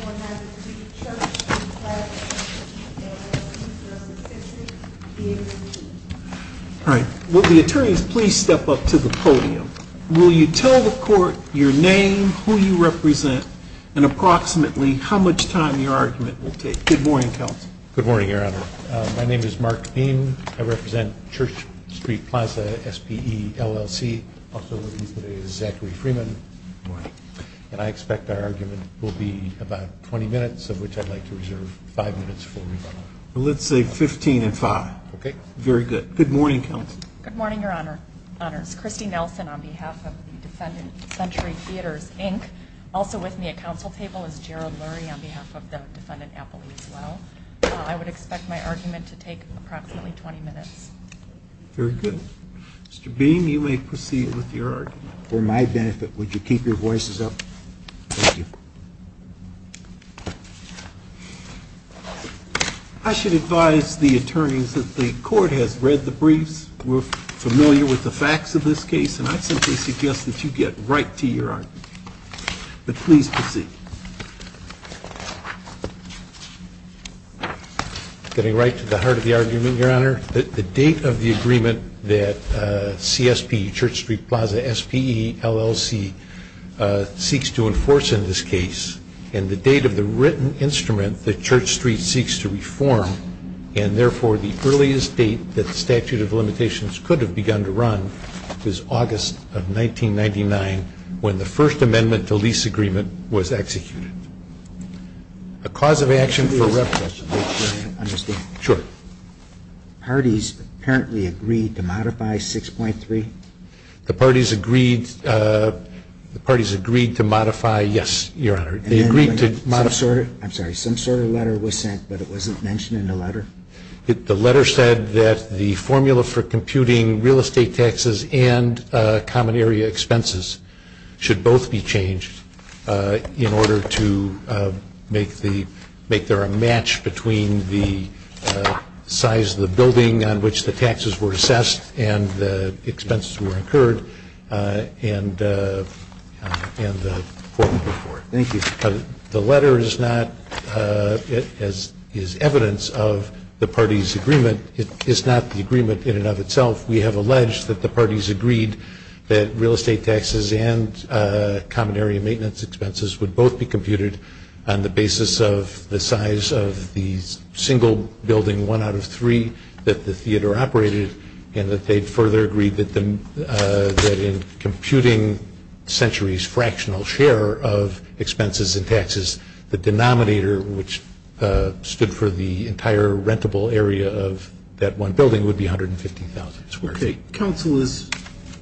All right. Will the attorneys please step up to the podium? Will you tell the court your name, who you represent, and approximately how much time your argument will take? Good morning, counsel. Good morning, Your Honor. My name is Mark Beam. I represent Church Street Plaza, SPE, LLC. Also known as Zachary Freeman. And I expect our argument will be about 20 minutes, of which I'd like to reserve 5 minutes for rebuttal. Let's say 15 and 5. Okay. Very good. Good morning, counsel. Good morning, Your Honor. It's Christy Nelson on behalf of the defendant, Century Theatres, Inc. Also with me at counsel table is Gerald Lurie on behalf of the defendant, Appley, as well. I would expect my argument to take approximately 20 minutes. Very good. Mr. Beam, you may proceed with your argument. For my benefit, would you keep your voices up? Thank you. I should advise the attorneys that the court has read the briefs, were familiar with the facts of this case, and I simply suggest that you get right to your argument. But please proceed. Getting right to the heart of the argument, Your Honor. The date of the agreement that CSP, Church Street Plaza, SPE, LLC, seeks to enforce in this case, and the date of the written instrument that Church Street seeks to reform, and therefore the earliest date that the statute of limitations could have begun to run, is August of 1999, when the first amendment to lease agreement was executed. A cause of action for repression. Parties apparently agreed to modify 6.3? The parties agreed to modify, yes, Your Honor. Some sort of letter was sent, but it wasn't mentioned in the letter? The letter said that the formula for computing real estate taxes and common area expenses should both be changed in order to make the, make there a match between the size of the building on which the taxes were assessed and the expenses were incurred. Thank you. The letter is not, is evidence of the parties' agreement. It is not the agreement in and of itself. The denominator, which stood for the entire rentable area of that one building, would be $150,000. Okay. Counsel, as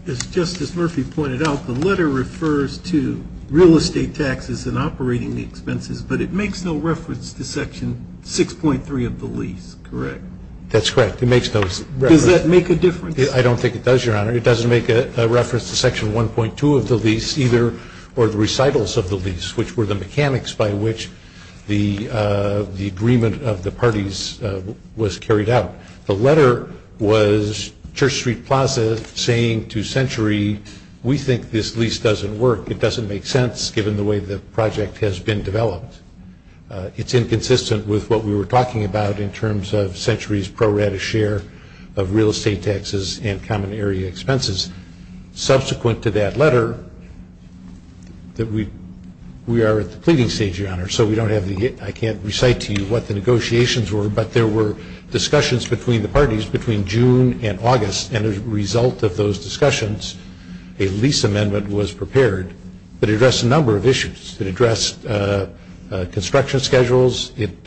Justice Murphy pointed out, the letter refers to real estate taxes and operating expenses, but it makes no reference to Section 6.3 of the lease, correct? That's correct. It makes no reference. Does that make a difference? I don't think it does, Your Honor. It doesn't make a reference to Section 1.2 of the lease either, or the recitals of the lease, which were the mechanics by which the agreement of the parties was carried out. The letter was Church Street Plaza saying to Century, we think this lease doesn't work. It doesn't make sense given the way the project has been developed. It's inconsistent with what we were talking about in terms of Century's pro rata share of real estate taxes and common area expenses. Subsequent to that letter, we are at the pleading stage, Your Honor, so we don't have the, I can't recite to you what the negotiations were, but there were discussions between the parties between June and August, and as a result of those discussions, a lease amendment was prepared that addressed a number of issues. It addressed construction schedules. It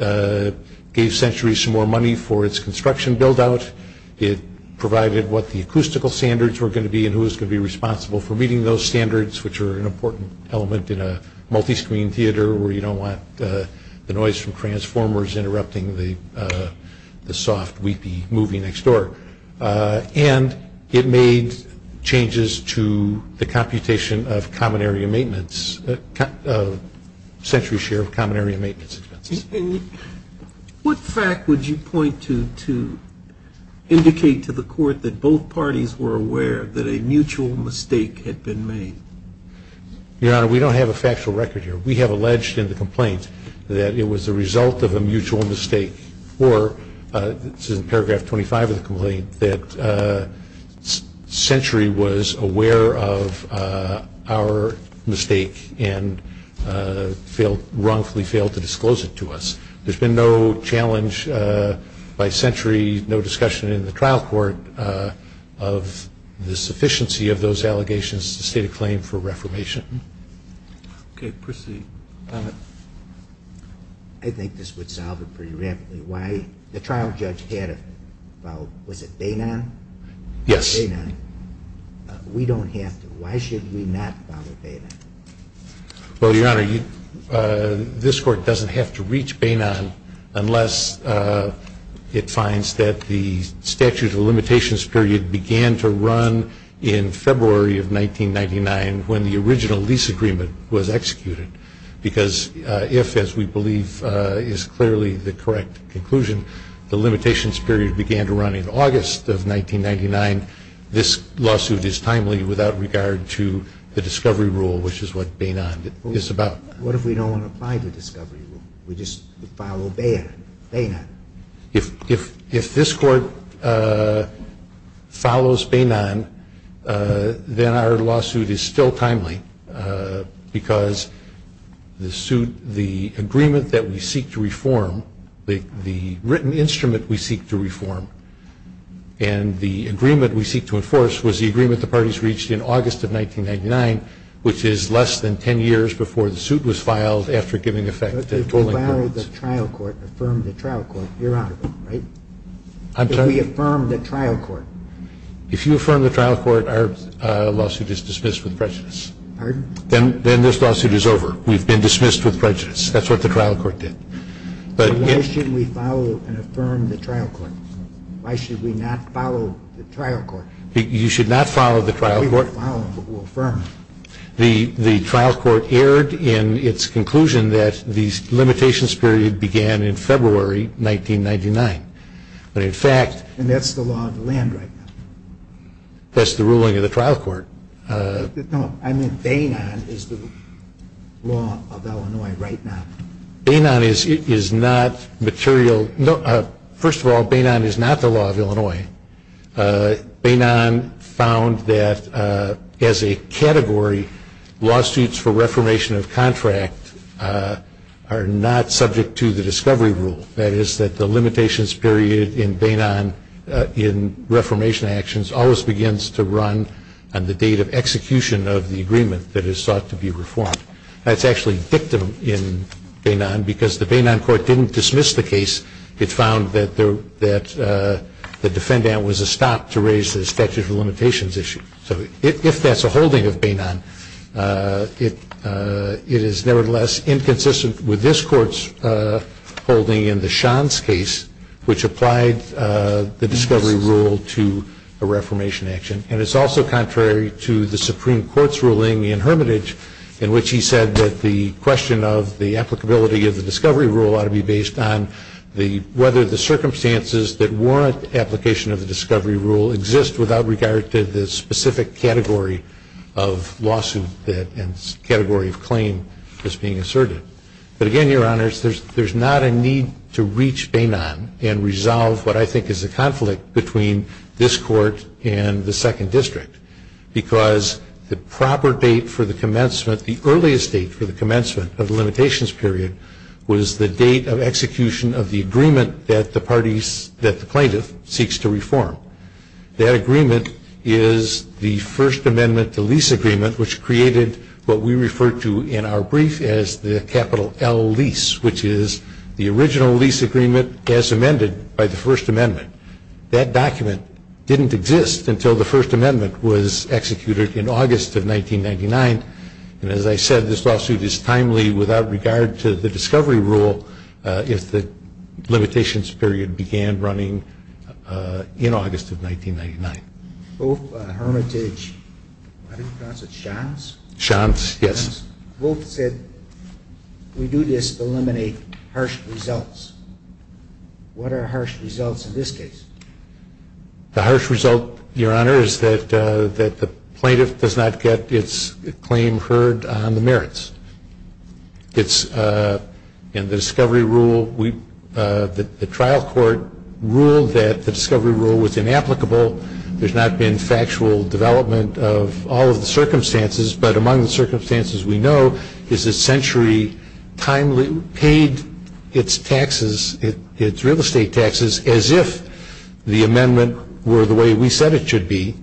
gave Century some more money for its construction build-out. It provided what the acoustical standards were going to be and who was going to be responsible for meeting those standards, which are an important element in a multi-screen theater where you don't want the noise from transformers interrupting the soft, weepy movie next door. And it made changes to the computation of common area maintenance, Century's share of common area maintenance expenses. And what fact would you point to to indicate to the Court that both parties were aware that a mutual mistake had been made? Your Honor, we don't have a factual record here. We have alleged in the complaint that it was a result of a mutual mistake, or this is in paragraph 25 of the complaint, that Century was aware of our mistake and wrongfully failed to disclose it to us. There's been no challenge by Century, no discussion in the trial court of the sufficiency of those allegations to state a claim for reformation. Okay, proceed. I think this would solve it pretty rapidly. The trial judge had a, was it Bainon? Yes. Bainon. We don't have to. Why should we not follow Bainon? Well, Your Honor, this Court doesn't have to reach Bainon unless it finds that the statute of limitations period began to run in February of 1999 when the original lease agreement was executed. Because if, as we believe is clearly the correct conclusion, the limitations period began to run in August of 1999, this lawsuit is timely without regard to the discovery rule, which is what Bainon is about. What if we don't want to apply the discovery rule? We just follow Bainon? If this Court follows Bainon, then our lawsuit is still timely because the suit, the agreement that we seek to reform, the written instrument we seek to reform, and the agreement we seek to enforce was the agreement the parties reached in August of 1999, which is less than 10 years before the suit was filed after giving effect to the tolling codes. If we follow the trial court, affirm the trial court, Your Honor, right? I'm sorry? If we affirm the trial court. If you affirm the trial court, our lawsuit is dismissed with prejudice. Pardon? Then this lawsuit is over. We've been dismissed with prejudice. That's what the trial court did. Why should we follow and affirm the trial court? Why should we not follow the trial court? You should not follow the trial court. We will follow and affirm. The trial court erred in its conclusion that the limitations period began in February 1999. And that's the law of the land right now. That's the ruling of the trial court. No, I meant Bainon is the law of Illinois right now. Bainon is not material. First of all, Bainon is not the law of Illinois. Bainon found that as a category, lawsuits for reformation of contract are not subject to the discovery rule. That is that the limitations period in Bainon in reformation actions always begins to run on the date of execution of the agreement that is sought to be reformed. That's actually dictum in Bainon because the Bainon court didn't dismiss the case. It found that the defendant was a stop to raise the statute of limitations issue. So if that's a holding of Bainon, it is nevertheless inconsistent with this court's holding in the Shands case, which applied the discovery rule to a reformation action. And it's also contrary to the Supreme Court's ruling in Hermitage in which he said that the question of the applicability of the discovery rule ought to be based on whether the circumstances that warrant application of the discovery rule exist without regard to the specific category of lawsuit and category of claim that's being asserted. But again, Your Honors, there's not a need to reach Bainon and resolve what I think is a conflict between this court and the second district because the proper date for the commencement, the earliest date for the commencement of the limitations period, was the date of execution of the agreement that the plaintiff seeks to reform. That agreement is the First Amendment to lease agreement, which created what we refer to in our brief as the capital L lease, which is the original lease agreement as amended by the First Amendment. That document didn't exist until the First Amendment was executed in August of 1999. And as I said, this lawsuit is timely without regard to the discovery rule if the limitations period began running in August of 1999. Both Hermitage, I think you pronounce it Shons? Shons, yes. Both said we do this to eliminate harsh results. What are harsh results in this case? The harsh result, Your Honor, is that the plaintiff does not get its claim heard on the merits. It's in the discovery rule. The trial court ruled that the discovery rule was inapplicable. There's not been factual development of all of the circumstances, but among the circumstances we know is that Century timely paid its taxes, its real estate taxes as if the amendment were the way we said it should be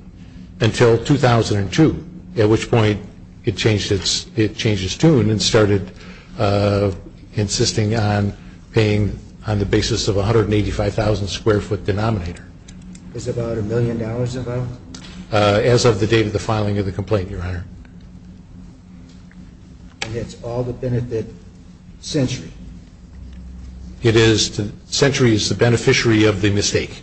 until 2002, at which point it changed its tune and started insisting on paying on the basis of a 185,000 square foot denominator. Is about a million dollars involved? As of the date of the filing of the complaint, Your Honor. And that's all that benefited Century? It is. Century is the beneficiary of the mistake.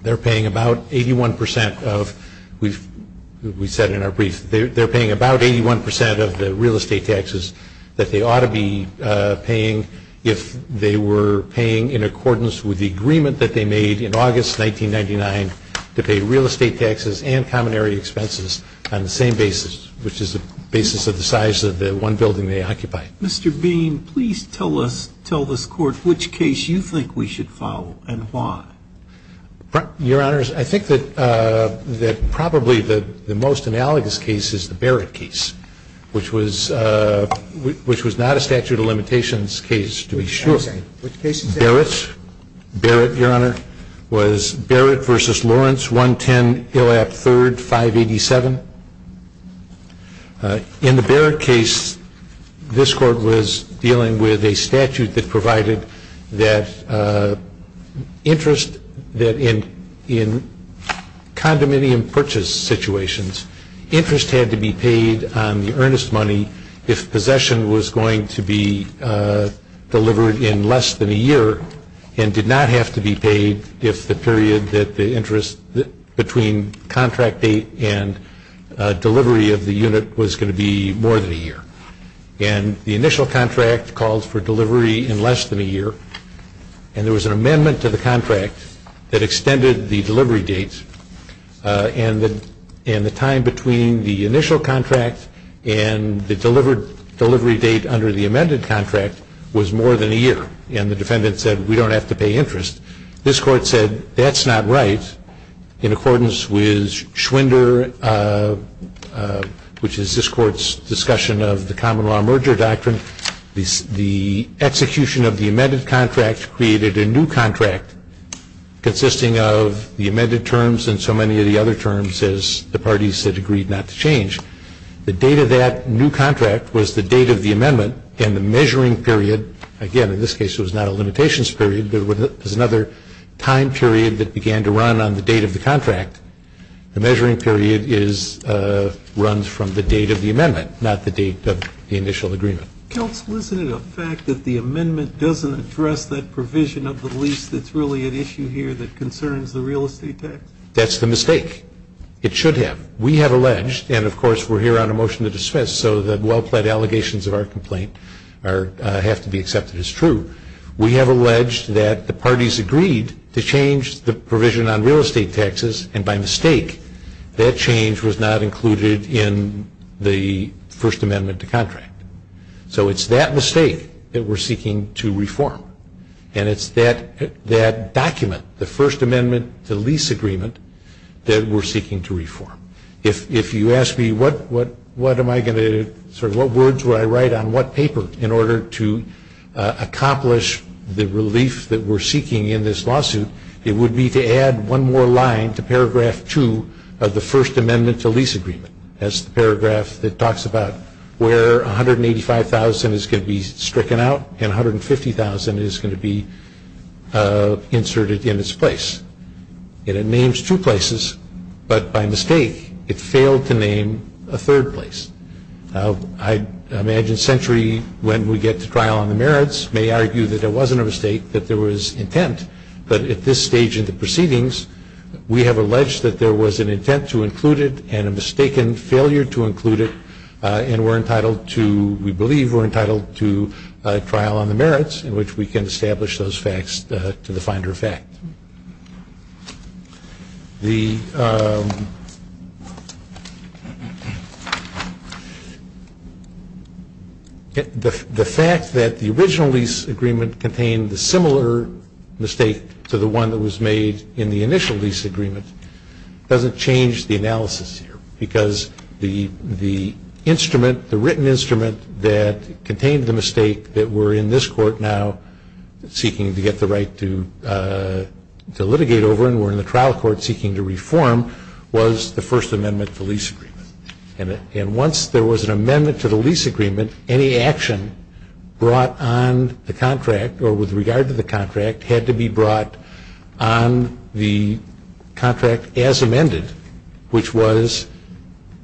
They're paying about 81% of, we said in our brief, they're paying about 81% of the real estate taxes that they ought to be paying if they were paying in accordance with the agreement that they made in August 1999 to pay real estate taxes and common area expenses on the same basis, which is the basis of the size of the one building they occupy. Mr. Bean, please tell us, tell this Court, which case you think we should follow and why. Your Honors, I think that probably the most analogous case is the Barrett case, which was not a statute of limitations case, to be sure. Which case is that? Barrett's. Barrett, Your Honor, was Barrett v. Lawrence, 110 Illap 3rd, 587. In the Barrett case, this Court was dealing with a statute that provided that interest that in condominium purchase situations, interest had to be paid on the earnest money if possession was going to be delivered in less than a year and did not have to be paid if the period that the interest between contract date and delivery of the unit was going to be more than a year. And the initial contract called for delivery in less than a year, and there was an amendment to the contract that extended the delivery date and the time between the initial contract and the delivery date under the amended contract was more than a year. And the defendant said we don't have to pay interest. This Court said that's not right. In accordance with Schwinder, which is this Court's discussion of the common law merger doctrine, the execution of the amended contract created a new contract consisting of the amended terms and so many of the other terms as the parties had agreed not to change. The date of that new contract was the date of the amendment and the measuring period, again in this case it was not a limitations period, but it was another time period that began to run on the date of the contract. The measuring period runs from the date of the amendment, not the date of the initial agreement. Counsel, isn't it a fact that the amendment doesn't address that provision of the lease that's really at issue here that concerns the real estate tax? That's the mistake. It should have. We have alleged, and of course we're here on a motion to dismiss, so the well-plaid allegations of our complaint have to be accepted as true. We have alleged that the parties agreed to change the provision on real estate taxes, and by mistake that change was not included in the first amendment to contract. So it's that mistake that we're seeking to reform. And it's that document, the first amendment to lease agreement, that we're seeking to reform. If you ask me what words would I write on what paper in order to accomplish the relief that we're seeking in this lawsuit, it would be to add one more line to paragraph two of the first amendment to lease agreement. That's the paragraph that talks about where $185,000 is going to be stricken out and $150,000 is going to be inserted in its place. And it names two places, but by mistake it failed to name a third place. Now, I imagine Century, when we get to trial on the merits, may argue that there wasn't a mistake, that there was intent, but at this stage in the proceedings we have alleged that there was an intent to include it and a mistaken failure to include it and we're entitled to, we believe we're entitled to, a trial on the merits in which we can establish those facts to the finder effect. The fact that the original lease agreement contained the similar mistake to the one that was made in the initial lease agreement doesn't change the analysis here because the instrument, the written instrument that contained the mistake that we're in this court now seeking to get the right to litigate over and we're in the trial court seeking to reform was the first amendment to lease agreement. And once there was an amendment to the lease agreement, any action brought on the contract or with regard to the contract had to be brought on the contract as amended, which was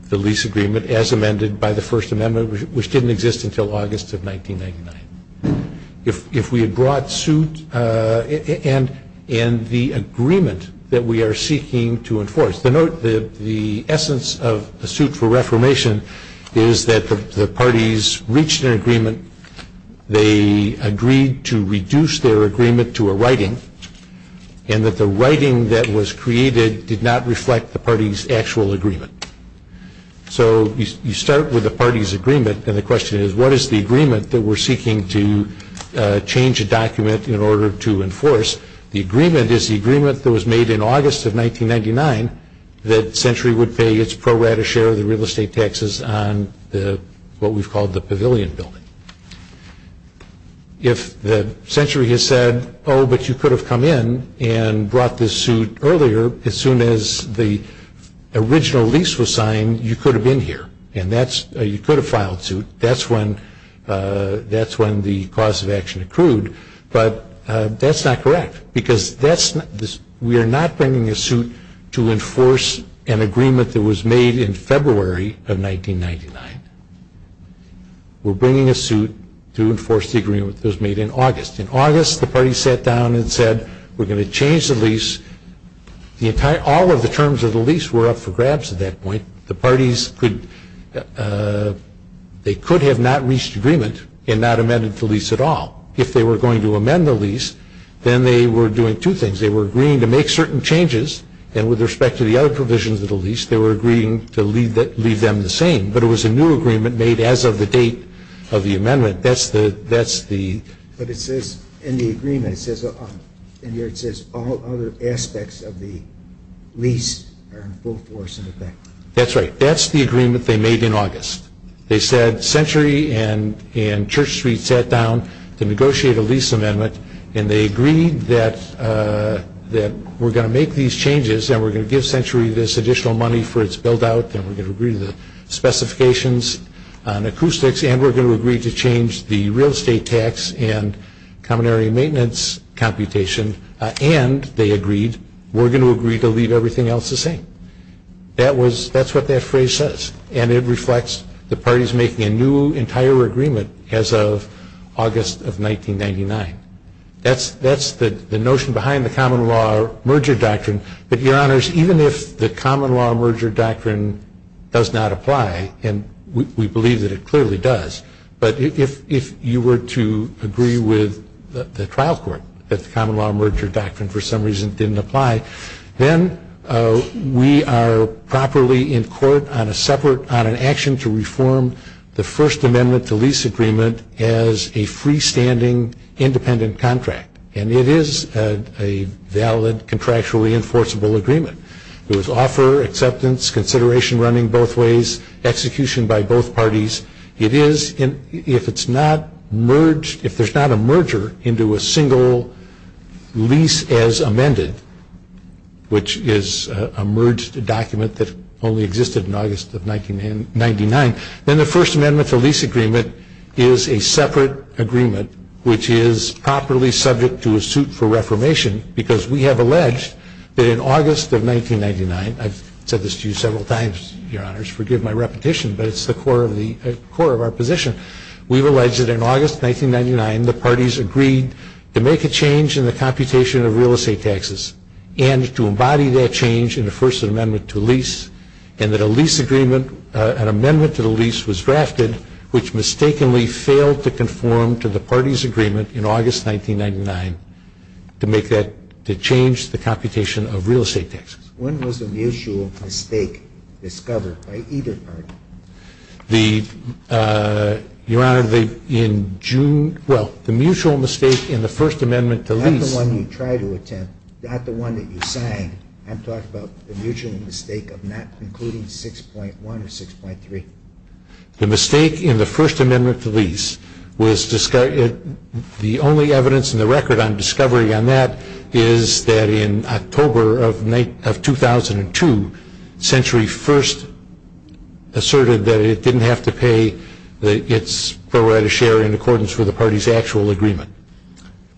the lease agreement as amended by the first amendment, which didn't exist until August of 1999. If we had brought suit and the agreement that we are seeking to enforce. The essence of the suit for reformation is that the parties reached an agreement. They agreed to reduce their agreement to a writing and that the writing that was created did not reflect the party's actual agreement. So you start with the party's agreement and the question is, what is the agreement that we're seeking to change a document in order to enforce? The agreement is the agreement that was made in August of 1999 that Century would pay its pro rata share of the real estate taxes on what we've called the pavilion building. If Century has said, oh, but you could have come in and brought this suit earlier, as soon as the original lease was signed, you could have been here. And you could have filed suit. That's when the cause of action accrued. But that's not correct because we are not bringing a suit to enforce an agreement that was made in February of 1999. We're bringing a suit to enforce the agreement that was made in August. In August, the party sat down and said, we're going to change the lease. All of the terms of the lease were up for grabs at that point. The parties could have not reached agreement and not amended the lease at all if they were going to amend the lease. Then they were doing two things. They were agreeing to make certain changes. And with respect to the other provisions of the lease, they were agreeing to leave them the same. But it was a new agreement made as of the date of the amendment. That's the ‑‑ But it says in the agreement, it says all other aspects of the lease are in full force. That's right. That's the agreement they made in August. They said Century and Church Street sat down to negotiate a lease amendment and they agreed that we're going to make these changes and we're going to give Century this additional money for its buildout and we're going to agree to the specifications on acoustics and we're going to agree to change the real estate tax and common area maintenance computation. And they agreed, we're going to agree to leave everything else the same. That's what that phrase says. And it reflects the parties making a new entire agreement as of August of 1999. That's the notion behind the common law merger doctrine. But, Your Honors, even if the common law merger doctrine does not apply, and we believe that it clearly does, but if you were to agree with the trial court that the common law merger doctrine for some reason didn't apply, then we are properly in court on an action to reform the First Amendment to lease agreement as a freestanding independent contract. And it is a valid contractually enforceable agreement. There was offer, acceptance, consideration running both ways, execution by both parties. If there's not a merger into a single lease as amended, which is a merged document that only existed in August of 1999, then the First Amendment to lease agreement is a separate agreement which is properly subject to a suit for reformation because we have alleged that in August of 1999, I've said this to you several times, Your Honors, forgive my repetition, but it's the core of our position. We've alleged that in August of 1999, the parties agreed to make a change in the computation of real estate taxes and to embody that change in the First Amendment to lease and that an amendment to the lease was drafted which mistakenly failed to conform to the party's agreement in August 1999 to change the computation of real estate taxes. When was the mutual mistake discovered by either party? The, Your Honor, in June, well, the mutual mistake in the First Amendment to lease. Not the one you tried to attempt, not the one that you signed. I'm talking about the mutual mistake of not including 6.1 or 6.3. The mistake in the First Amendment to lease was, the only evidence in the record on discovery on that is that in October of 2002, Century First asserted that it didn't have to pay its pro rata share in accordance with the party's actual agreement.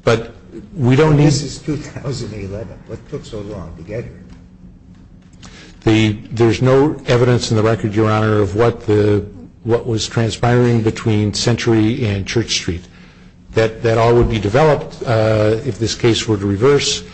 But we don't need... This is 2011. What took so long to get here? There's no evidence in the record, Your Honor, of what was transpiring between Century and Church Street. That all would be developed if this case were to reverse.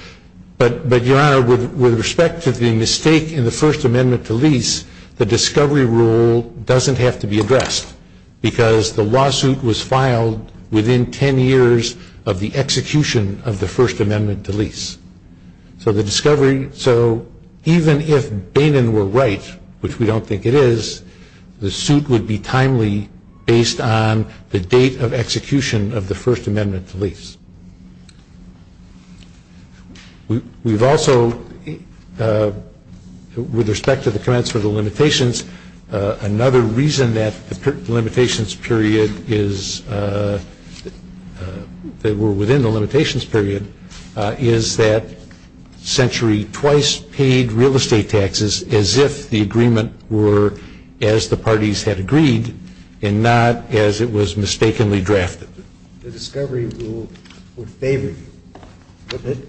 But, Your Honor, with respect to the mistake in the First Amendment to lease, the discovery rule doesn't have to be addressed because the lawsuit was filed within 10 years of the execution of the First Amendment to lease. So the discovery... So even if Bannon were right, which we don't think it is, the suit would be timely based on the date of execution of the First Amendment to lease. We've also... With respect to the comments for the limitations, another reason that the limitations period is... that we're within the limitations period is that Century twice paid real estate taxes as if the agreement were as the parties had agreed and not as it was mistakenly drafted. The discovery rule would favor you, wouldn't it?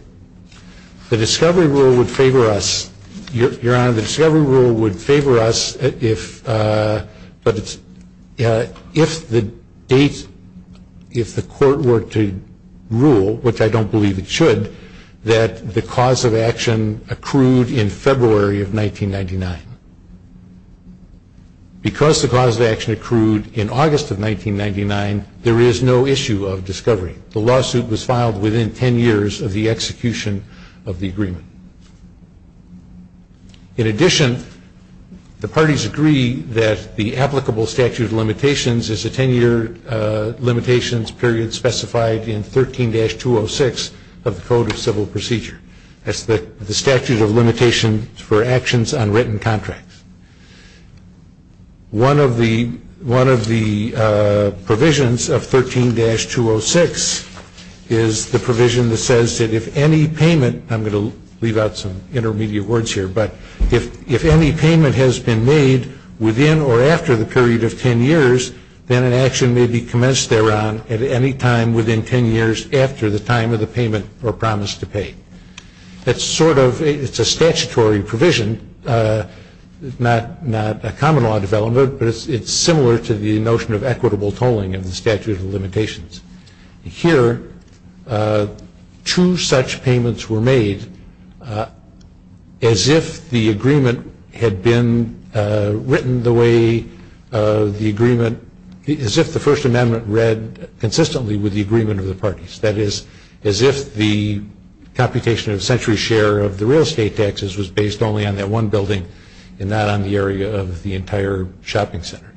The discovery rule would favor us. Your Honor, the discovery rule would favor us if... If the date... If the court were to rule, which I don't believe it should, that the cause of action accrued in February of 1999. Because the cause of action accrued in August of 1999, there is no issue of discovery. The lawsuit was filed within 10 years of the execution of the agreement. In addition, the parties agree that the applicable statute of limitations is a 10-year limitations period specified in 13-206 of the Code of Civil Procedure. That's the statute of limitations for actions on written contracts. One of the provisions of 13-206 is the provision that says that if any payment... I'm going to leave out some intermediate words here, but if any payment has been made within or after the period of 10 years, then an action may be commenced thereon at any time within 10 years after the time of the payment or promise to pay. That's sort of... It's a statutory provision, not a common law development, but it's similar to the notion of equitable tolling of the statute of limitations. Here, two such payments were made as if the agreement had been written the way the agreement... as if the First Amendment read consistently with the agreement of the parties. That is, as if the computation of the century's share of the real estate taxes was based only on that one building and not on the area of the entire shopping center.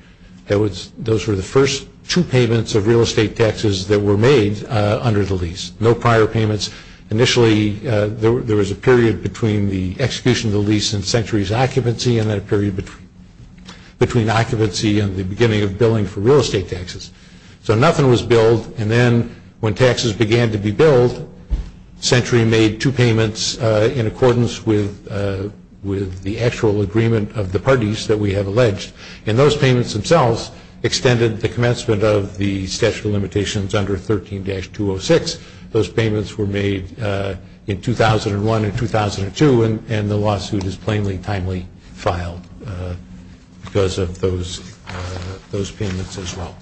Those were the first two payments of real estate taxes that were made under the lease. No prior payments. Initially, there was a period between the execution of the lease and century's occupancy and then a period between occupancy and the beginning of billing for real estate taxes. So nothing was billed, and then when taxes began to be billed, century made two payments in accordance with the actual agreement of the parties that we have alleged, and those payments themselves extended the commencement of the statute of limitations under 13-206. Those payments were made in 2001 and 2002, and the lawsuit is plainly timely filed because of those payments as well.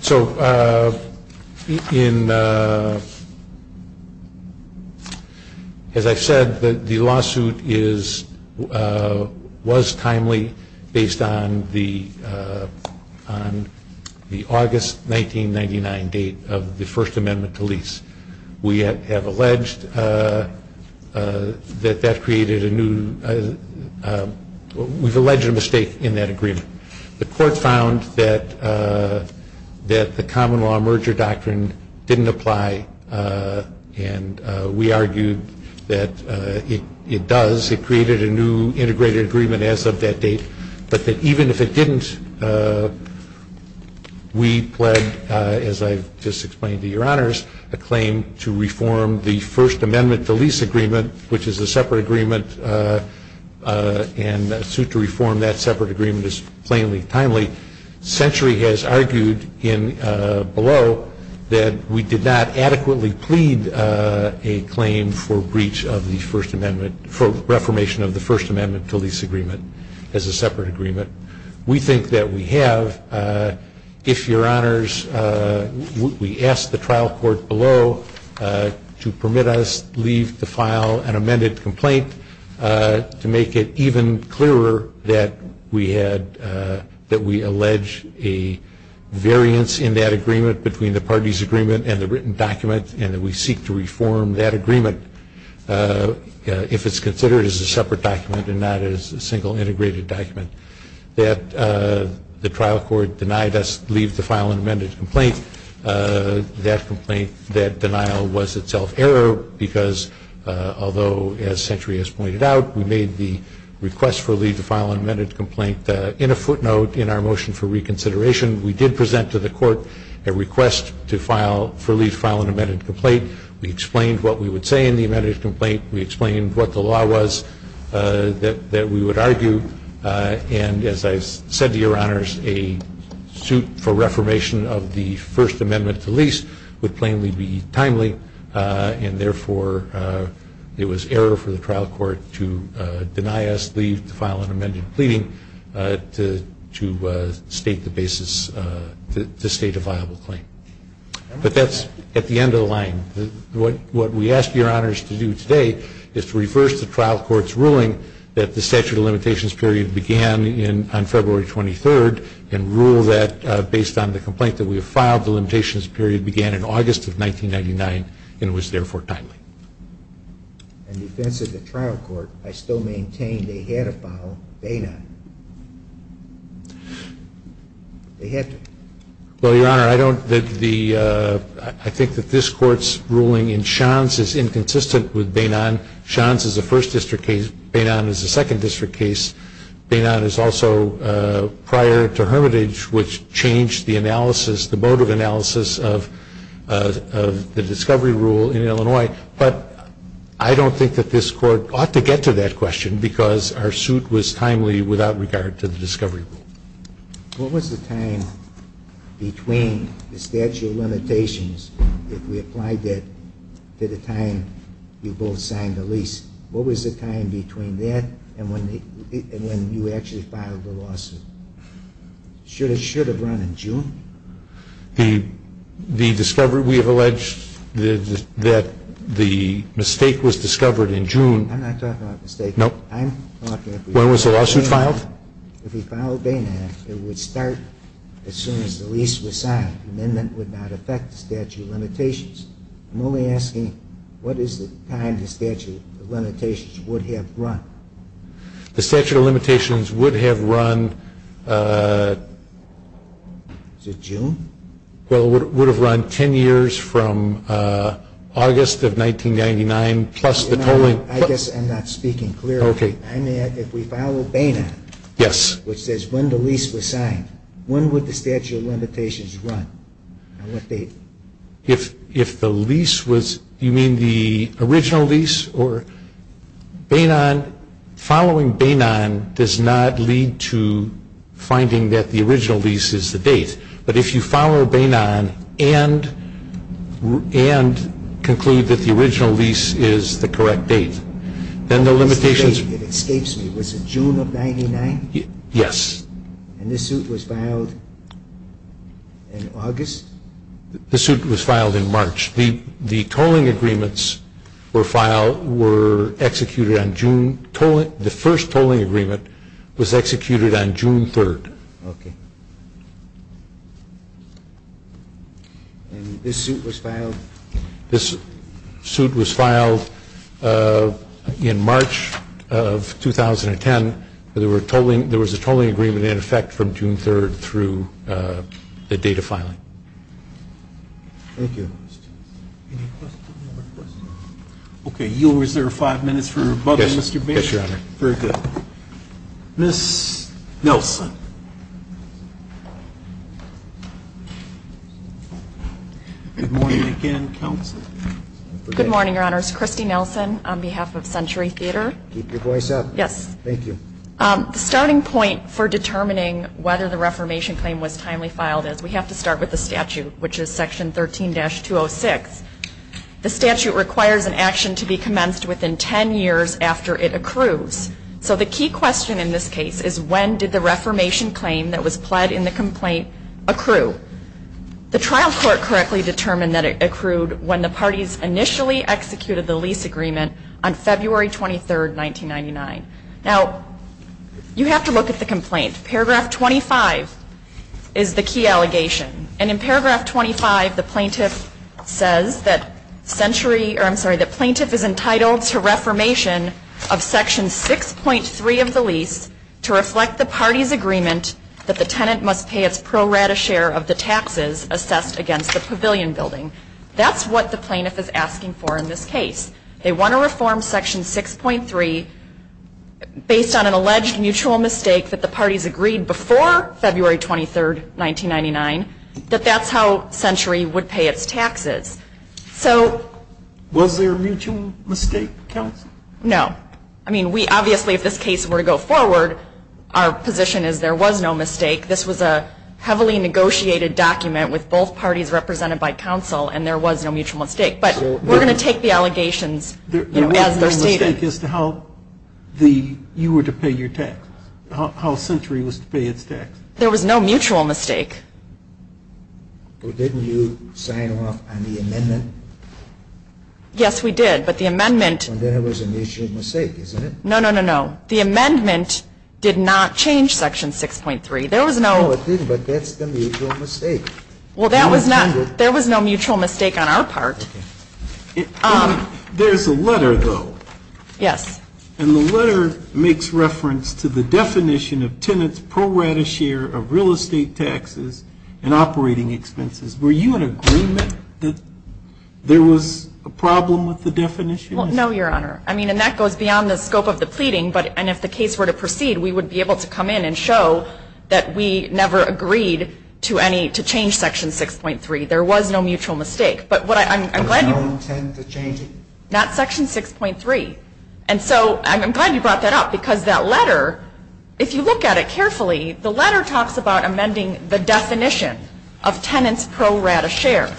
So, as I said, the lawsuit was timely based on the August 1999 date of the First Amendment to lease. We have alleged that that created a new... we've alleged a mistake in that agreement. The court found that the common law merger doctrine didn't apply, and we argued that it does. It created a new integrated agreement as of that date, but that even if it didn't, we pled, as I've just explained to your honors, a claim to reform the First Amendment to lease agreement, which is a separate agreement and a suit to reform that separate agreement is plainly timely. Century has argued below that we did not adequately plead a claim for breach of the First Amendment, for reformation of the First Amendment to lease agreement as a separate agreement. We think that we have. If your honors, we ask the trial court below to permit us leave to file an amended complaint to make it even clearer that we allege a variance in that agreement between the parties agreement and the written document, and that we seek to reform that agreement if it's considered as a separate document and not as a single integrated document. That the trial court denied us leave to file an amended complaint. That complaint, that denial was itself error because although, as Century has pointed out, we made the request for leave to file an amended complaint in a footnote in our motion for reconsideration, we did present to the court a request for leave to file an amended complaint. We explained what we would say in the amended complaint. We explained what the law was that we would argue, and as I said to your honors, a suit for reformation of the First Amendment to lease would plainly be timely, and therefore it was error for the trial court to deny us leave to file an amended pleading to state the basis, to state a viable claim. What we ask your honors to do today is to reverse the trial court's ruling that the statute of limitations period began on February 23rd, and rule that based on the complaint that we have filed, the limitations period began in August of 1999, and was therefore timely. In defense of the trial court, I still maintain they had to file, they did not. They had to. Well, your honor, I think that this court's ruling in Shantz is inconsistent with Bainon. Shantz is a first district case. Bainon is a second district case. Bainon is also prior to Hermitage, which changed the analysis, the mode of analysis of the discovery rule in Illinois, but I don't think that this court ought to get to that question because our suit was timely without regard to the discovery rule. What was the time between the statute of limitations, if we applied that to the time you both signed the lease, what was the time between that and when you actually filed the lawsuit? Should it have run in June? The discovery, we have alleged that the mistake was discovered in June. I'm not talking about the mistake. Nope. I'm talking about the discovery. When was the lawsuit filed? If we filed Bainon, it would start as soon as the lease was signed. The amendment would not affect the statute of limitations. I'm only asking what is the time the statute of limitations would have run. The statute of limitations would have run. Is it June? Well, it would have run 10 years from August of 1999 plus the tolling. I guess I'm not speaking clearly. Okay. If we follow Bainon. Yes. Which says when the lease was signed, when would the statute of limitations run? On what date? If the lease was, you mean the original lease or Bainon, following Bainon does not lead to finding that the original lease is the date. But if you follow Bainon and conclude that the original lease is the correct date, then the limitations. It escapes me. Was it June of 1999? Yes. And this suit was filed in August? This suit was filed in March. The tolling agreements were executed on June, the first tolling agreement was executed on June 3rd. Okay. And this suit was filed? This suit was filed in March of 2010. There was a tolling agreement in effect from June 3rd through the date of filing. Thank you. Any questions? You'll reserve five minutes for rebuttal, Mr. Bainon. Yes, Your Honor. Very good. Ms. Nelson. Good morning again, counsel. Good morning, Your Honors. Kristi Nelson on behalf of Century Theater. Keep your voice up. Yes. Thank you. The starting point for determining whether the reformation claim was timely filed is we have to start with the statute, which is Section 13-206. The statute requires an action to be commenced within 10 years after it accrues. So the key question in this case is when did the reformation claim that was pled in the complaint accrue? The trial court correctly determined that it accrued when the parties initially executed the lease agreement on February 23rd, 1999. Now, you have to look at the complaint. Paragraph 25 is the key allegation. And in Paragraph 25, the plaintiff says that Century or I'm sorry, the plaintiff is entitled to reformation of Section 6.3 of the lease to reflect the party's agreement that the tenant must pay its pro rata share of the taxes assessed against the pavilion building. That's what the plaintiff is asking for in this case. They want to reform Section 6.3 based on an alleged mutual mistake that the parties agreed before February 23rd, 1999. That that's how Century would pay its taxes. So. Was there a mutual mistake, counsel? No. I mean, we obviously, if this case were to go forward, our position is there was no mistake. This was a heavily negotiated document with both parties represented by counsel, and there was no mutual mistake. But we're going to take the allegations as they're stated. There was no mistake as to how you were to pay your taxes, how Century was to pay its taxes? There was no mutual mistake. Well, didn't you sign off on the amendment? Yes, we did. But the amendment. Then it was a mutual mistake, isn't it? No, no, no, no. The amendment did not change Section 6.3. There was no. No, it didn't, but that's the mutual mistake. Well, that was not. There was no mutual mistake on our part. There's a letter, though. Yes. And the letter makes reference to the definition of tenants pro rata share of real estate taxes and operating expenses. Were you in agreement that there was a problem with the definition? Well, no, Your Honor. I mean, and that goes beyond the scope of the pleading. And if the case were to proceed, we would be able to come in and show that we never agreed to any, to change Section 6.3. There was no mutual mistake. But what I'm glad you. There was no intent to change it. Not Section 6.3. And so I'm glad you brought that up because that letter, if you look at it carefully, the letter talks about amending the definition of tenants pro rata share.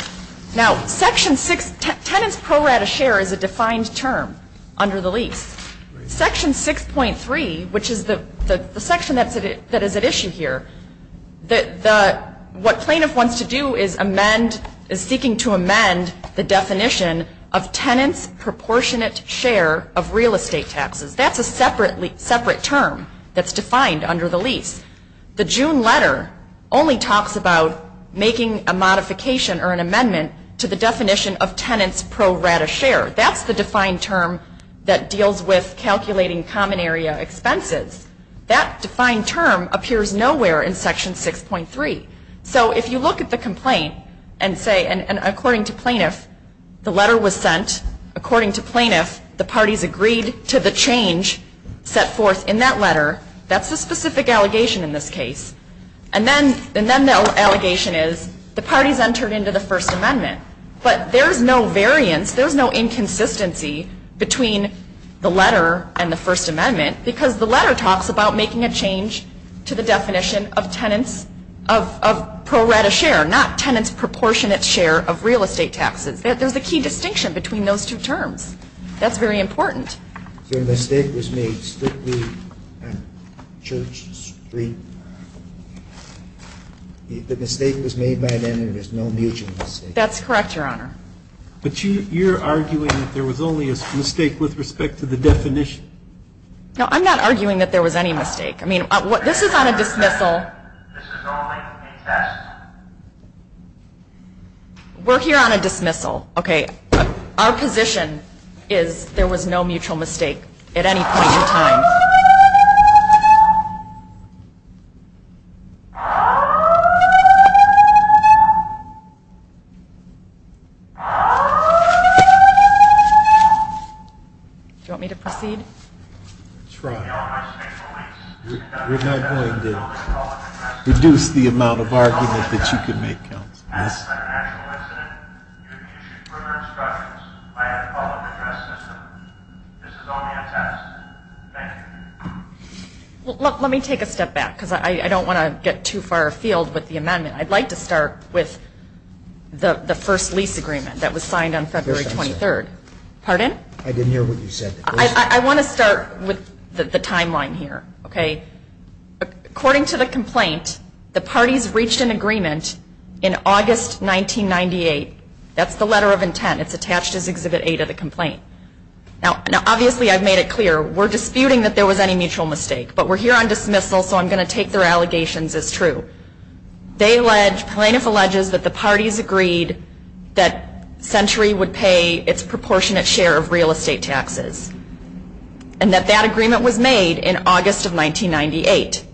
Now, Section 6, tenants pro rata share is a defined term under the lease. Section 6.3, which is the section that is at issue here, what plaintiff wants to do is amend, is seeking to amend the definition of tenants proportionate share of real estate taxes. That's a separate term that's defined under the lease. The June letter only talks about making a modification or an amendment to the definition of tenants pro rata share. That's the defined term that deals with calculating common area expenses. That defined term appears nowhere in Section 6.3. So if you look at the complaint and say, and according to plaintiff, the letter was sent, according to plaintiff, the parties agreed to the change set forth in that letter, that's a specific allegation in this case. And then the allegation is the parties entered into the First Amendment. But there's no variance, there's no inconsistency between the letter and the First Amendment because the letter talks about making a change to the definition of tenants of pro rata share, not tenants proportionate share of real estate taxes. There's a key distinction between those two terms. That's very important. Your mistake was made strictly on Church Street. The mistake was made by then and there's no mutual mistake. That's correct, Your Honor. But you're arguing that there was only a mistake with respect to the definition. No, I'm not arguing that there was any mistake. I mean, this is on a dismissal. This is only a test. We're here on a dismissal. Okay. Our position is there was no mutual mistake at any point in time. Do you want me to proceed? Try. We're not going to reduce the amount of argument that you can make, Counsel. Yes. Let me take a step back because I don't want to get too far afield with the amendment. I'd like to start with the first lease agreement that was signed on February 23rd. Pardon? I didn't hear what you said. I want to start with the timeline here, okay? According to the complaint, the parties reached an agreement in August 1998. That's the letter of intent. It's attached as Exhibit A to the complaint. Now, obviously, I've made it clear. We're disputing that there was any mutual mistake, but we're here on dismissal, so I'm going to take their allegations as true. They allege, plaintiff alleges, that the parties agreed that Century would pay its proportionate share of real estate taxes and that that agreement was made in August of 1998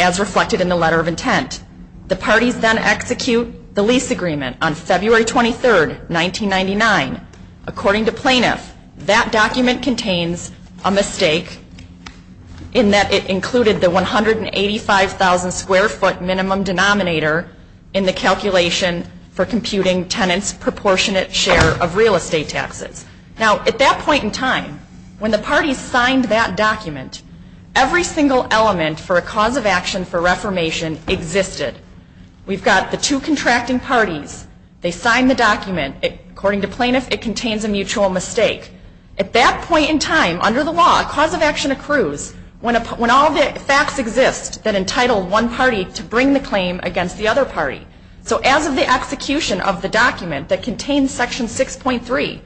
as reflected in the letter of intent. The parties then execute the lease agreement on February 23rd, 1999. According to plaintiff, that document contains a mistake in that it included the 185,000 square foot minimum denominator in the calculation for computing tenants' proportionate share of real estate taxes. Now, at that point in time, when the parties signed that document, every single element for a cause of action for reformation existed. We've got the two contracting parties. They signed the document. According to plaintiff, it contains a mutual mistake. At that point in time, under the law, a cause of action accrues when all the facts exist that entitle one party to bring the claim against the other party. So as of the execution of the document that contains section 6.3,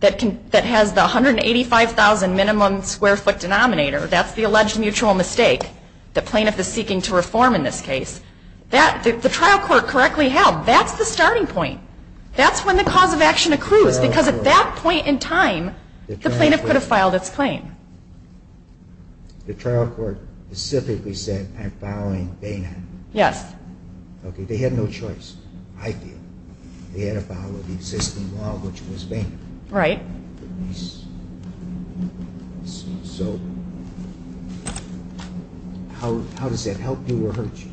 that has the 185,000 minimum square foot denominator, that's the alleged mutual mistake that plaintiff is seeking to reform in this case. The trial court correctly held that's the starting point. That's when the cause of action accrues because at that point in time, the plaintiff could have filed its claim. The trial court specifically said, I'm filing Bainham. Yes. Okay. They had no choice, I think. They had to follow the existing law, which was Bainham. Right. So how does that help you or hurt you?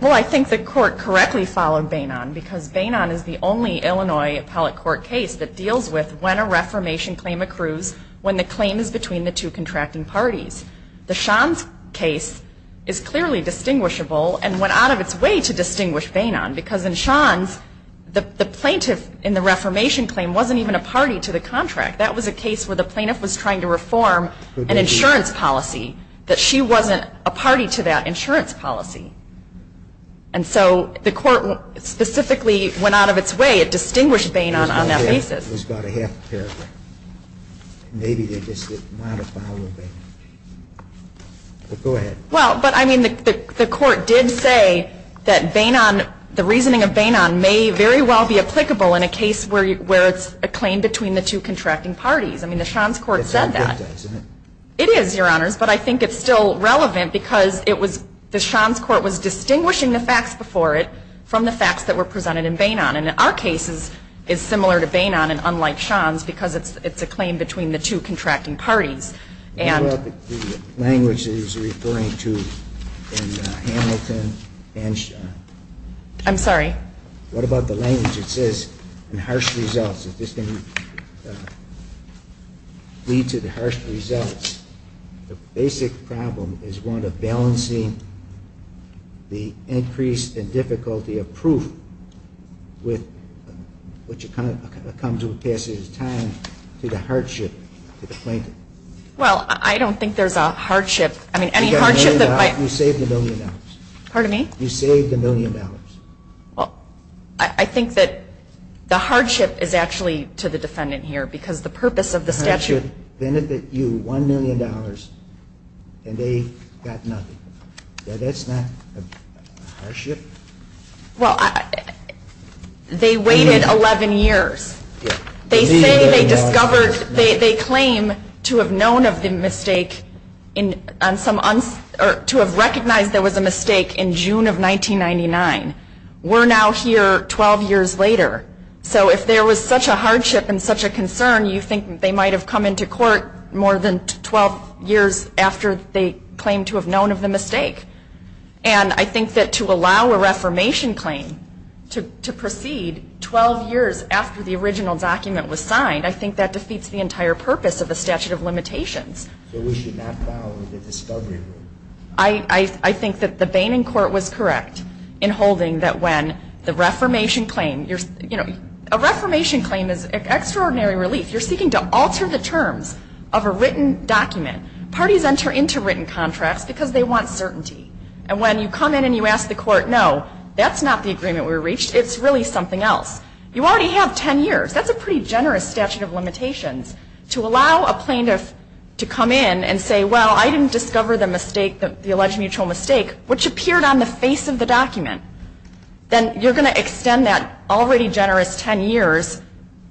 Well, I think the court correctly followed Bainham because Bainham is the only Illinois appellate court case that deals with when a reformation claim accrues when the claim is between the two contracting parties. The Shands case is clearly distinguishable and went out of its way to distinguish Bainham because in Shands, the plaintiff in the reformation claim wasn't even a party to the contract. That was a case where the plaintiff was trying to reform an insurance policy, that she wasn't a party to that insurance policy. And so the court specifically went out of its way. It distinguished Bainham on that basis. I think the court did say that Bainham, the reasoning of Bainham may very well be applicable in a case where it's a claim between the two contracting parties. I mean, the Shands court said that. It's not good, does it? It is, Your Honors. But I think it's still relevant because it was the Shands court was distinguishing the facts before it from the facts that were presented in Bainham. What about the language that he's referring to in Hamilton and Shands? I'm sorry? What about the language that says, in harsh results, if this can lead to the harsh results, the basic problem is one of balancing the increase in difficulty of proof which comes with passage of time to the hardship to the plaintiff. Well, I don't think there's a hardship. You saved a million dollars. Pardon me? You saved a million dollars. Well, I think that the hardship is actually to the defendant here because the purpose of the statute. The hardship benefited you $1 million and they got nothing. That's not a hardship? Well, they waited 11 years. They claim to have known of the mistake or to have recognized there was a mistake in June of 1999. We're now here 12 years later. So if there was such a hardship and such a concern, you think they might have come into court more than 12 years after they claimed to have known of the mistake. And I think that to allow a reformation claim to proceed 12 years after the original document was signed, I think that defeats the entire purpose of the statute of limitations. So we should not follow the discovery rule? I think that the Boehning court was correct in holding that when the reformation claim, you know, a reformation claim is an extraordinary relief. You're seeking to alter the terms of a written document. Parties enter into written contracts because they want certainty. And when you come in and you ask the court, no, that's not the agreement we reached. It's really something else. You already have 10 years. That's a pretty generous statute of limitations. To allow a plaintiff to come in and say, well, I didn't discover the alleged mutual mistake, which appeared on the face of the document, then you're going to extend that already generous 10 years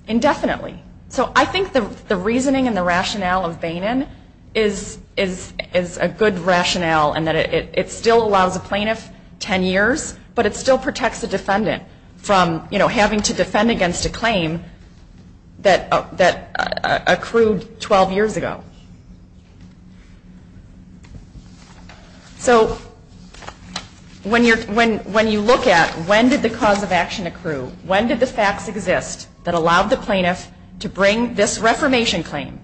indefinitely. So I think the reasoning and the rationale of Boehning is a good rationale and that it still allows a plaintiff 10 years, but it still protects the defendant from, you know, having to defend against a claim that accrued 12 years ago. So when you look at when did the cause of action accrue, when did the facts exist that allowed the plaintiff to bring this reformation claim,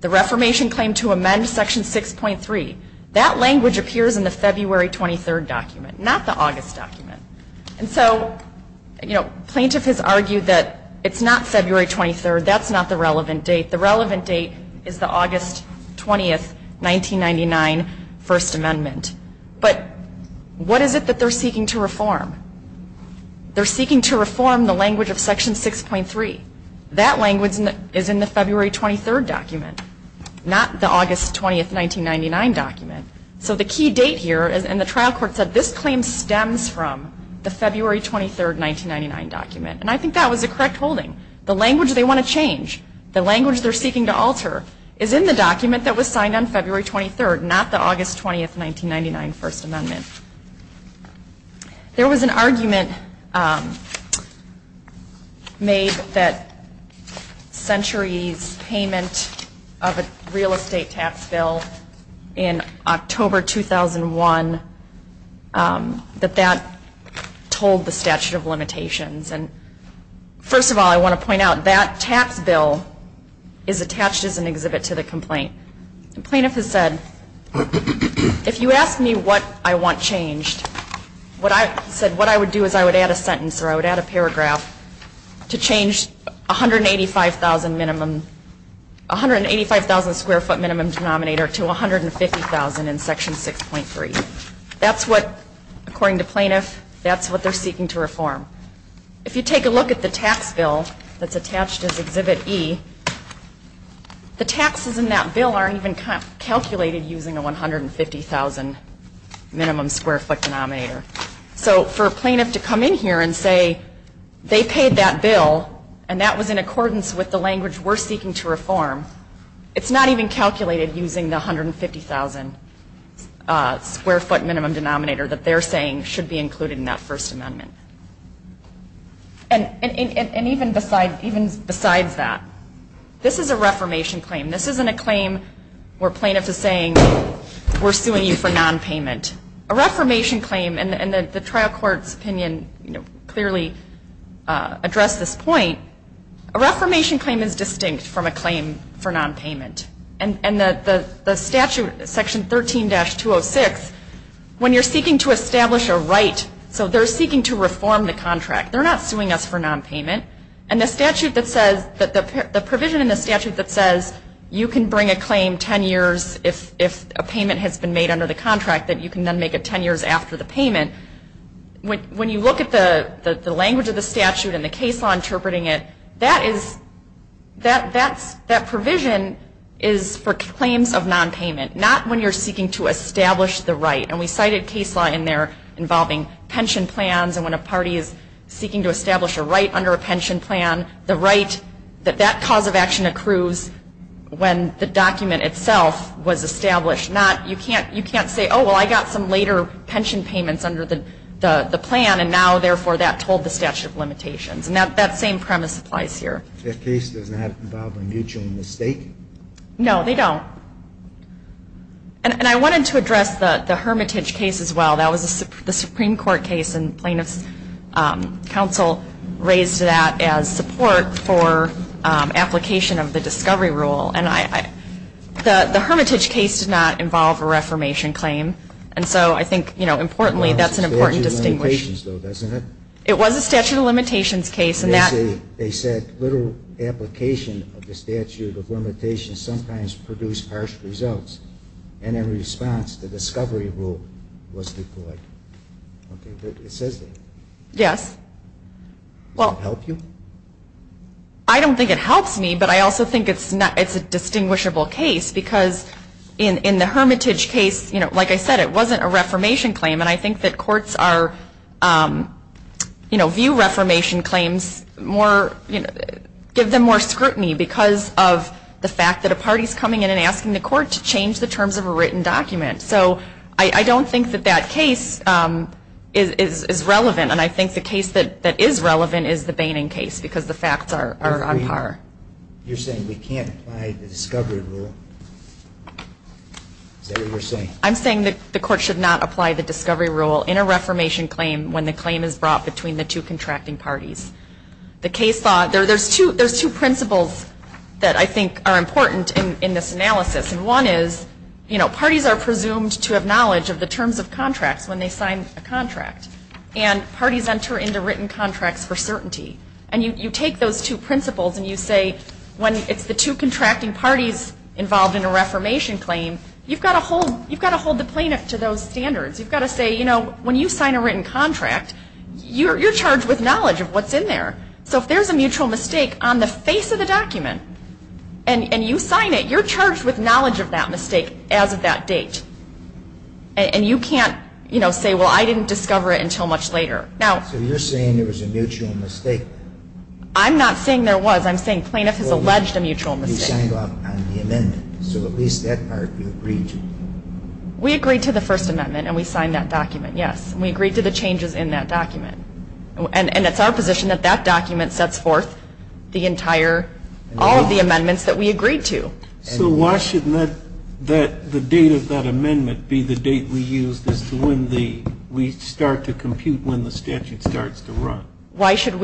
the reformation claim to amend section 6.3, that language appears in the February 23rd document, not the August document. And so, you know, plaintiff has argued that it's not February 23rd. That's not the relevant date. The relevant date is the August 20th, 1999 First Amendment. But what is it that they're seeking to reform? They're seeking to reform the language of section 6.3. That language is in the February 23rd document, not the August 20th, 1999 document. So the key date here, and the trial court said this claim stems from the February 23rd, 1999 document. And I think that was a correct holding. The language they want to change, the language they're seeking to alter, is in the document that was signed on February 23rd, not the August 20th, 1999 First Amendment. There was an argument made that Century's payment of a real estate tax bill in October 2001, that that told the statute of limitations. And first of all, I want to point out, that tax bill is attached as an exhibit to the complaint. The plaintiff has said, if you ask me what I want changed, what I would do is I would add a sentence or I would add a paragraph to change 185,000 square foot minimum denominator to 150,000 in section 6.3. That's what, according to plaintiff, that's what they're seeking to reform. If you take a look at the tax bill that's attached as exhibit E, the taxes in that bill aren't even calculated using a 150,000 minimum square foot denominator. So for a plaintiff to come in here and say they paid that bill, and that was in accordance with the language we're seeking to reform, it's not even calculated using the 150,000 square foot minimum denominator that they're saying should be included in that First Amendment. And even besides that, this is a reformation claim. This isn't a claim where plaintiff is saying we're suing you for nonpayment. A reformation claim, and the trial court's opinion clearly addressed this point, a reformation claim is distinct from a claim for nonpayment. And the statute, section 13-206, when you're seeking to establish a right, so they're seeking to reform the contract. They're not suing us for nonpayment. And the provision in the statute that says you can bring a claim 10 years if a payment has been made under the contract, that you can then make it 10 years after the payment, when you look at the language of the statute and the case law interpreting it, that provision is for claims of nonpayment, not when you're seeking to establish the right. And we cited case law in there involving pension plans, and when a party is seeking to establish a right under a pension plan, the right that that cause of action accrues when the document itself was established. You can't say, oh, well, I got some later pension payments under the plan, and now, therefore, that told the statute of limitations. And that same premise applies here. That case does not involve a mutual mistake? No, they don't. And I wanted to address the Hermitage case as well. That was the Supreme Court case, and plaintiff's counsel raised that as support for application of the discovery rule. And the Hermitage case did not involve a reformation claim, and so I think, you know, importantly, that's an important distinction. It was a statute of limitations, though, wasn't it? It was a statute of limitations case. They said literal application of the statute of limitations sometimes produced harsh results, and in response, the discovery rule was deployed. It says that. Yes. Does that help you? I don't think it helps me, but I also think it's a distinguishable case because in the Hermitage case, you know, like I said, it wasn't a reformation claim, and I think that courts are, you know, view reformation claims more, give them more scrutiny because of the fact that a party is coming in and asking the court to change the terms of a written document. So I don't think that that case is relevant, and I think the case that is relevant is the Boehning case because the facts are on par. You're saying we can't apply the discovery rule? Is that what you're saying? I'm saying that the court should not apply the discovery rule in a reformation claim when the claim is brought between the two contracting parties. The case law, there's two principles that I think are important in this analysis, and one is, you know, parties are presumed to have knowledge of the terms of contracts when they sign a contract, and parties enter into written contracts for certainty, and you take those two principles and you say when it's the two contracting parties involved in a reformation claim, you've got to hold the plaintiff to those standards. You've got to say, you know, when you sign a written contract, you're charged with knowledge of what's in there. So if there's a mutual mistake on the face of the document and you sign it, you're charged with knowledge of that mistake as of that date, and you can't, you know, say, well, I didn't discover it until much later. So you're saying there was a mutual mistake? I'm not saying there was. I'm saying plaintiff has alleged a mutual mistake. You signed off on the amendment, so at least that part you agreed to. We agreed to the First Amendment, and we signed that document, yes, and we agreed to the changes in that document, and it's our position that that document sets forth the entire, all of the amendments that we agreed to. So why shouldn't the date of that amendment be the date we used as to when we start to compute when the statute starts to run? Why should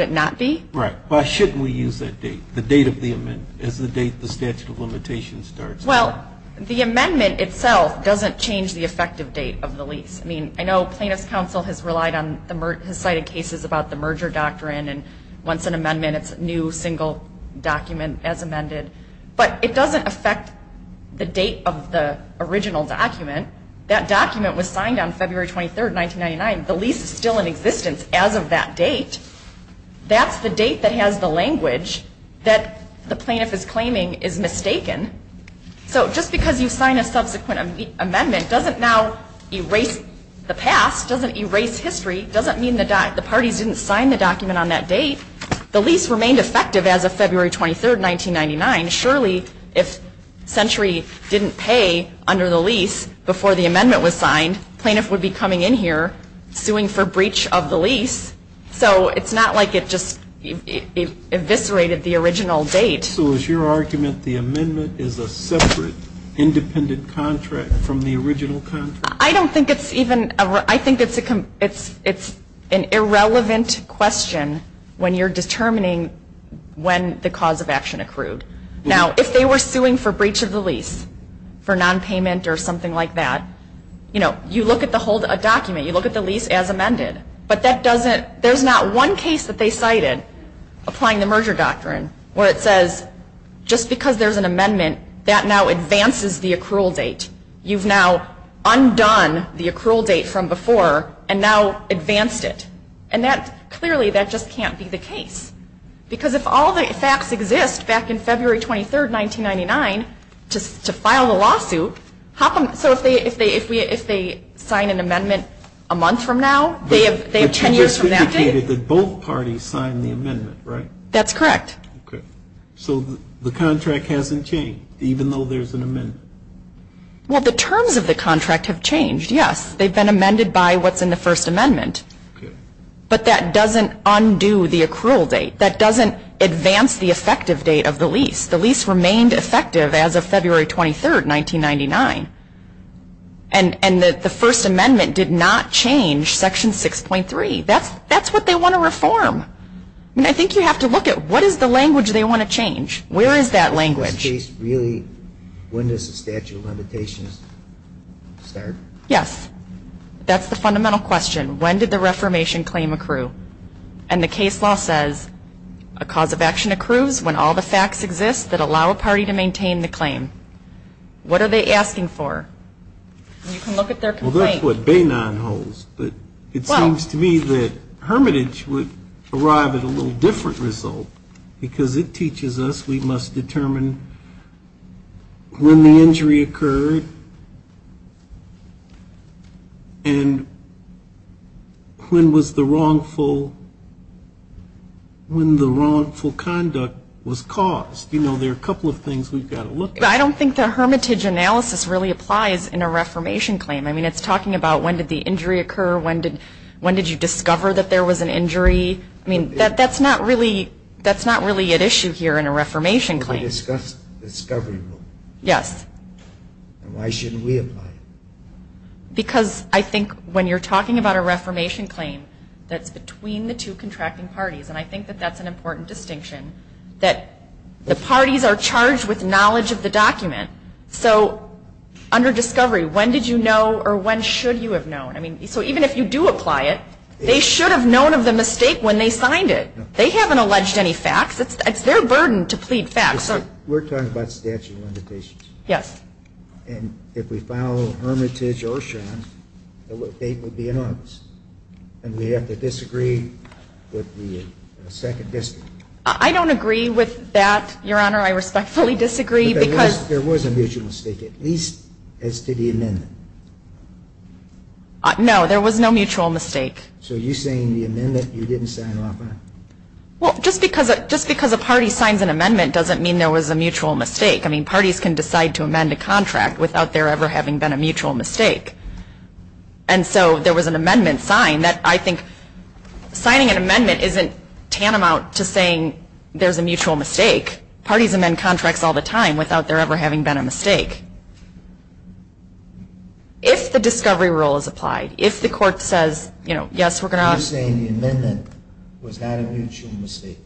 it not be? Right. Why shouldn't we use that date, the date of the amendment, as the date the statute of limitations starts? Well, the amendment itself doesn't change the effective date of the lease. I mean, I know Plaintiff's Counsel has relied on, has cited cases about the merger doctrine, and once an amendment, it's a new single document as amended, but it doesn't affect the date of the original document. That document was signed on February 23, 1999. The lease is still in existence as of that date. That's the date that has the language that the plaintiff is claiming is mistaken. So just because you sign a subsequent amendment doesn't now erase the past, doesn't erase history, doesn't mean the parties didn't sign the document on that date. The lease remained effective as of February 23, 1999. Surely if Century didn't pay under the lease before the amendment was signed, plaintiff would be coming in here suing for breach of the lease. So it's not like it just eviscerated the original date. So is your argument the amendment is a separate independent contract from the original contract? I don't think it's even, I think it's an irrelevant question when you're determining when the cause of action accrued. Now, if they were suing for breach of the lease for nonpayment or something like that, you know, you look at the whole document, you look at the lease as amended, but that doesn't, there's not one case that they cited applying the merger doctrine where it says just because there's an amendment, that now advances the accrual date. You've now undone the accrual date from before and now advanced it. And that, clearly that just can't be the case. Because if all the facts exist back in February 23, 1999, to file a lawsuit, so if they sign an amendment a month from now, they have 10 years from now. But you just indicated that both parties signed the amendment, right? That's correct. Okay. So the contract hasn't changed, even though there's an amendment? Well, the terms of the contract have changed, yes. They've been amended by what's in the First Amendment. But that doesn't undo the accrual date. That doesn't advance the effective date of the lease. The lease remained effective as of February 23, 1999. And the First Amendment did not change Section 6.3. That's what they want to reform. I think you have to look at what is the language they want to change. Where is that language? In this case, really, when does the statute of limitations start? Yes. That's the fundamental question. When did the reformation claim accrue? And the case law says, a cause of action accrues when all the facts exist that allow a party to maintain the claim. What are they asking for? You can look at their complaint. Well, that's what Bainon holds. But it seems to me that hermitage would arrive at a little different result because it teaches us we must determine when the injury occurred and when the wrongful conduct was caused. You know, there are a couple of things we've got to look at. I don't think the hermitage analysis really applies in a reformation claim. I mean, it's talking about when did the injury occur, when did you discover that there was an injury. I mean, that's not really at issue here in a reformation claim. Yes. Why shouldn't we apply? Because I think when you're talking about a reformation claim, that's between the two contracting parties, and I think that that's an important distinction, that the parties are charged with knowledge of the document. So under discovery, when did you know or when should you have known? I mean, so even if you do apply it, they should have known of the mistake when they signed it. They haven't alleged any facts. It's their burden to plead facts. We're talking about statute of limitations. Yes. And if we file hermitage or insurance, it would be anonymous, and we have to disagree with the second district. I don't agree with that, Your Honor. I respectfully disagree because – There was a mutual mistake, at least as to the amendment. No, there was no mutual mistake. So you're saying the amendment you didn't sign off on? Well, just because a party signs an amendment doesn't mean there was a mutual mistake. I mean, parties can decide to amend a contract without there ever having been a mutual mistake. And so there was an amendment signed that I think signing an amendment isn't tantamount to saying there's a mutual mistake. Parties amend contracts all the time without there ever having been a mistake. If the discovery rule is applied, if the court says, yes, we're going to – You're saying the amendment was not a mutual mistake.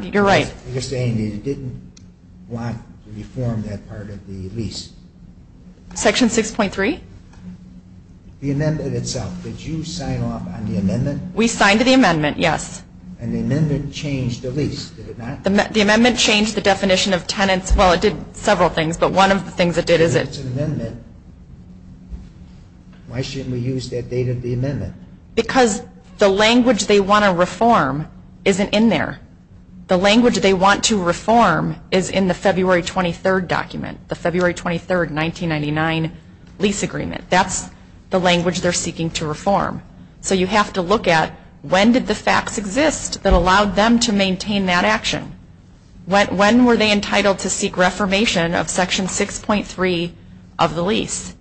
You're right. You're saying you didn't want to reform that part of the lease. Section 6.3? The amendment itself. Did you sign off on the amendment? We signed the amendment, yes. And the amendment changed the lease, did it not? The amendment changed the definition of tenants. Well, it did several things, but one of the things it did is it – If it's an amendment, why shouldn't we use that date of the amendment? Because the language they want to reform isn't in there. The language they want to reform is in the February 23rd document, the February 23rd, 1999 lease agreement. That's the language they're seeking to reform. So you have to look at when did the facts exist that allowed them to maintain that action? When were they entitled to seek reformation of Section 6.3 of the lease?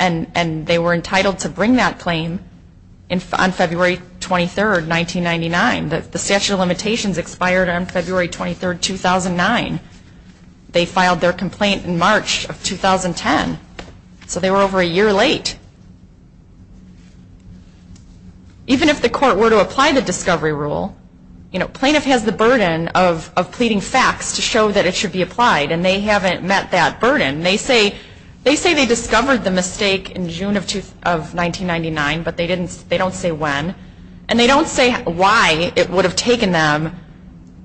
And they were entitled to bring that claim on February 23rd, 1999. The statute of limitations expired on February 23rd, 2009. They filed their complaint in March of 2010. So they were over a year late. Even if the court were to apply the discovery rule, plaintiff has the burden of pleading facts to show that it should be applied, and they haven't met that burden. They say they discovered the mistake in June of 1999, but they don't say when. And they don't say why it would have taken them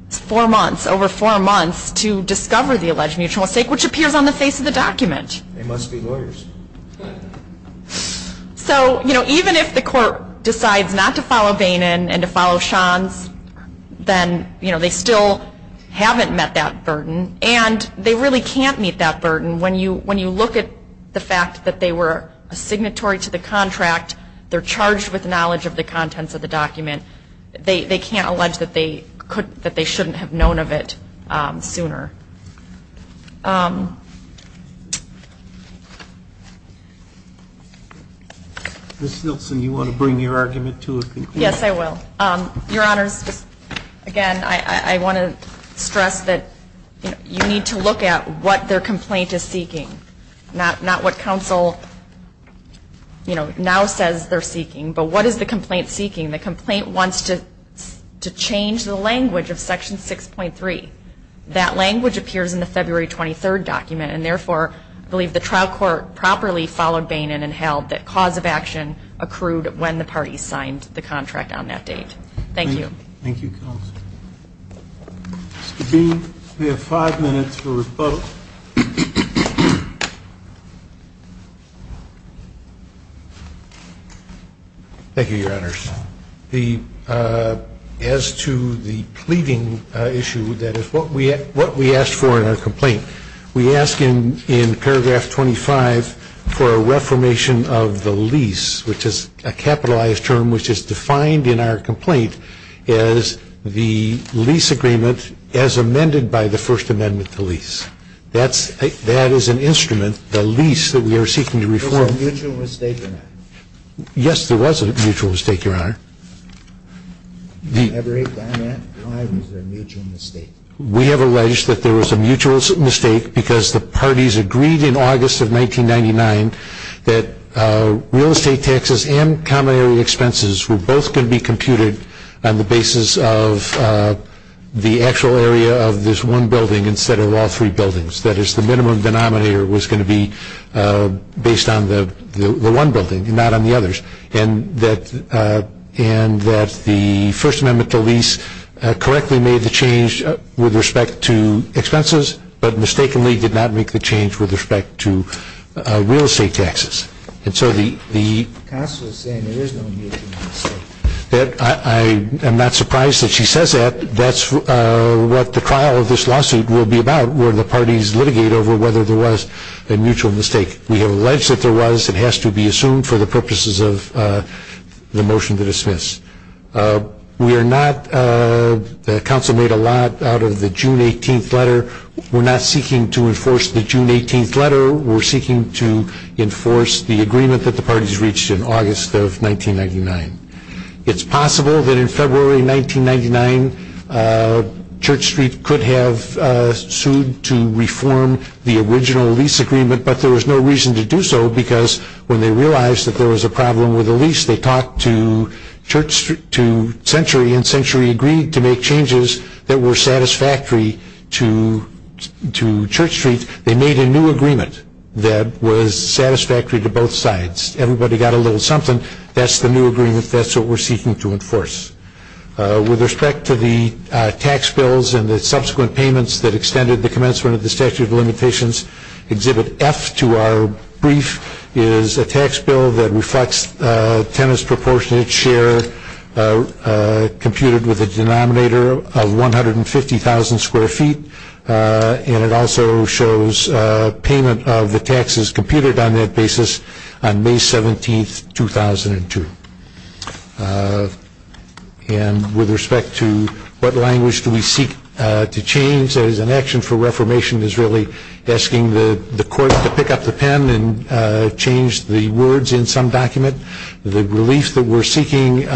four months, over four months to discover the alleged mutual mistake, which appears on the face of the document. They must be lawyers. So even if the court decides not to follow Bainon and to follow Shands, then they still haven't met that burden, and they really can't meet that burden. When you look at the fact that they were a signatory to the contract, they're charged with knowledge of the contents of the document. They can't allege that they shouldn't have known of it sooner. Ms. Nielsen, you want to bring your argument to a conclusion? Yes, I will. Your Honors, again, I want to stress that you need to look at what their complaint is seeking, not what counsel now says they're seeking, but what is the complaint seeking. The complaint wants to change the language of Section 6.3. That language appears in the February 23rd document, and therefore I believe the trial court properly followed Bainon and held that cause of action accrued when the parties signed the contract on that date. Thank you. Thank you, counsel. Mr. Bainon, we have five minutes for rebuttal. Thank you, Your Honors. As to the pleading issue, that is what we asked for in our complaint, we asked in paragraph 25 for a reformation of the lease, which is a capitalized term which is defined in our complaint as the lease agreement as amended by the First Amendment to lease. That is an instrument, the lease that we are seeking to reform. Was there a mutual mistake or not? Yes, there was a mutual mistake, Your Honor. Every comment, why was there a mutual mistake? We have alleged that there was a mutual mistake because the parties agreed in August of 1999 that real estate taxes and common area expenses were both going to be computed on the basis of the actual area of this one building instead of all three buildings. That is, the minimum denominator was going to be based on the one building and not on the others, and that the First Amendment to lease correctly made the change with respect to expenses, but mistakenly did not make the change with respect to real estate taxes. The counsel is saying there is no mutual mistake. I am not surprised that she says that. That is what the trial of this lawsuit will be about, where the parties litigate over whether there was a mutual mistake. We have alleged that there was. It has to be assumed for the purposes of the motion to dismiss. The counsel made a lot out of the June 18th letter. We are not seeking to enforce the June 18th letter. We are seeking to enforce the agreement that the parties reached in August of 1999. It is possible that in February 1999, Church Street could have sued to reform the original lease agreement, but there was no reason to do so because when they realized that there was a problem with the lease, they talked to Century and Century agreed to make changes that were satisfactory to Church Street. They made a new agreement that was satisfactory to both sides. Everybody got a little something. That is the new agreement. That is what we are seeking to enforce. With respect to the tax bills and the subsequent payments that extended the commencement of the statute of limitations, Exhibit F to our brief is a tax bill that reflects tenants' proportionate share computed with a denominator of 150,000 square feet. It also shows payment of the taxes computed on that basis on May 17th, 2002. With respect to what language do we seek to change, an action for reformation is really asking the court to pick up the pen and change the words in some document. The relief that we are seeking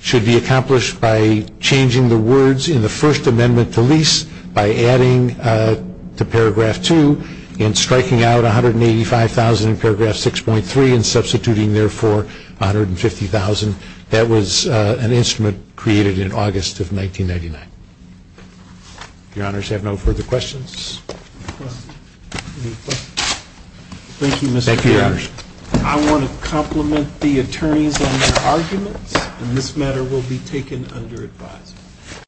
should be accomplished by changing the words in the First Amendment to lease by adding to paragraph 2 and striking out 185,000 in paragraph 6.3 and substituting, therefore, 150,000. That was an instrument created in August of 1999. Your Honors, do you have no further questions? Thank you, Mr. Chairman. I want to compliment the attorneys on their arguments. This matter will be taken under advisory.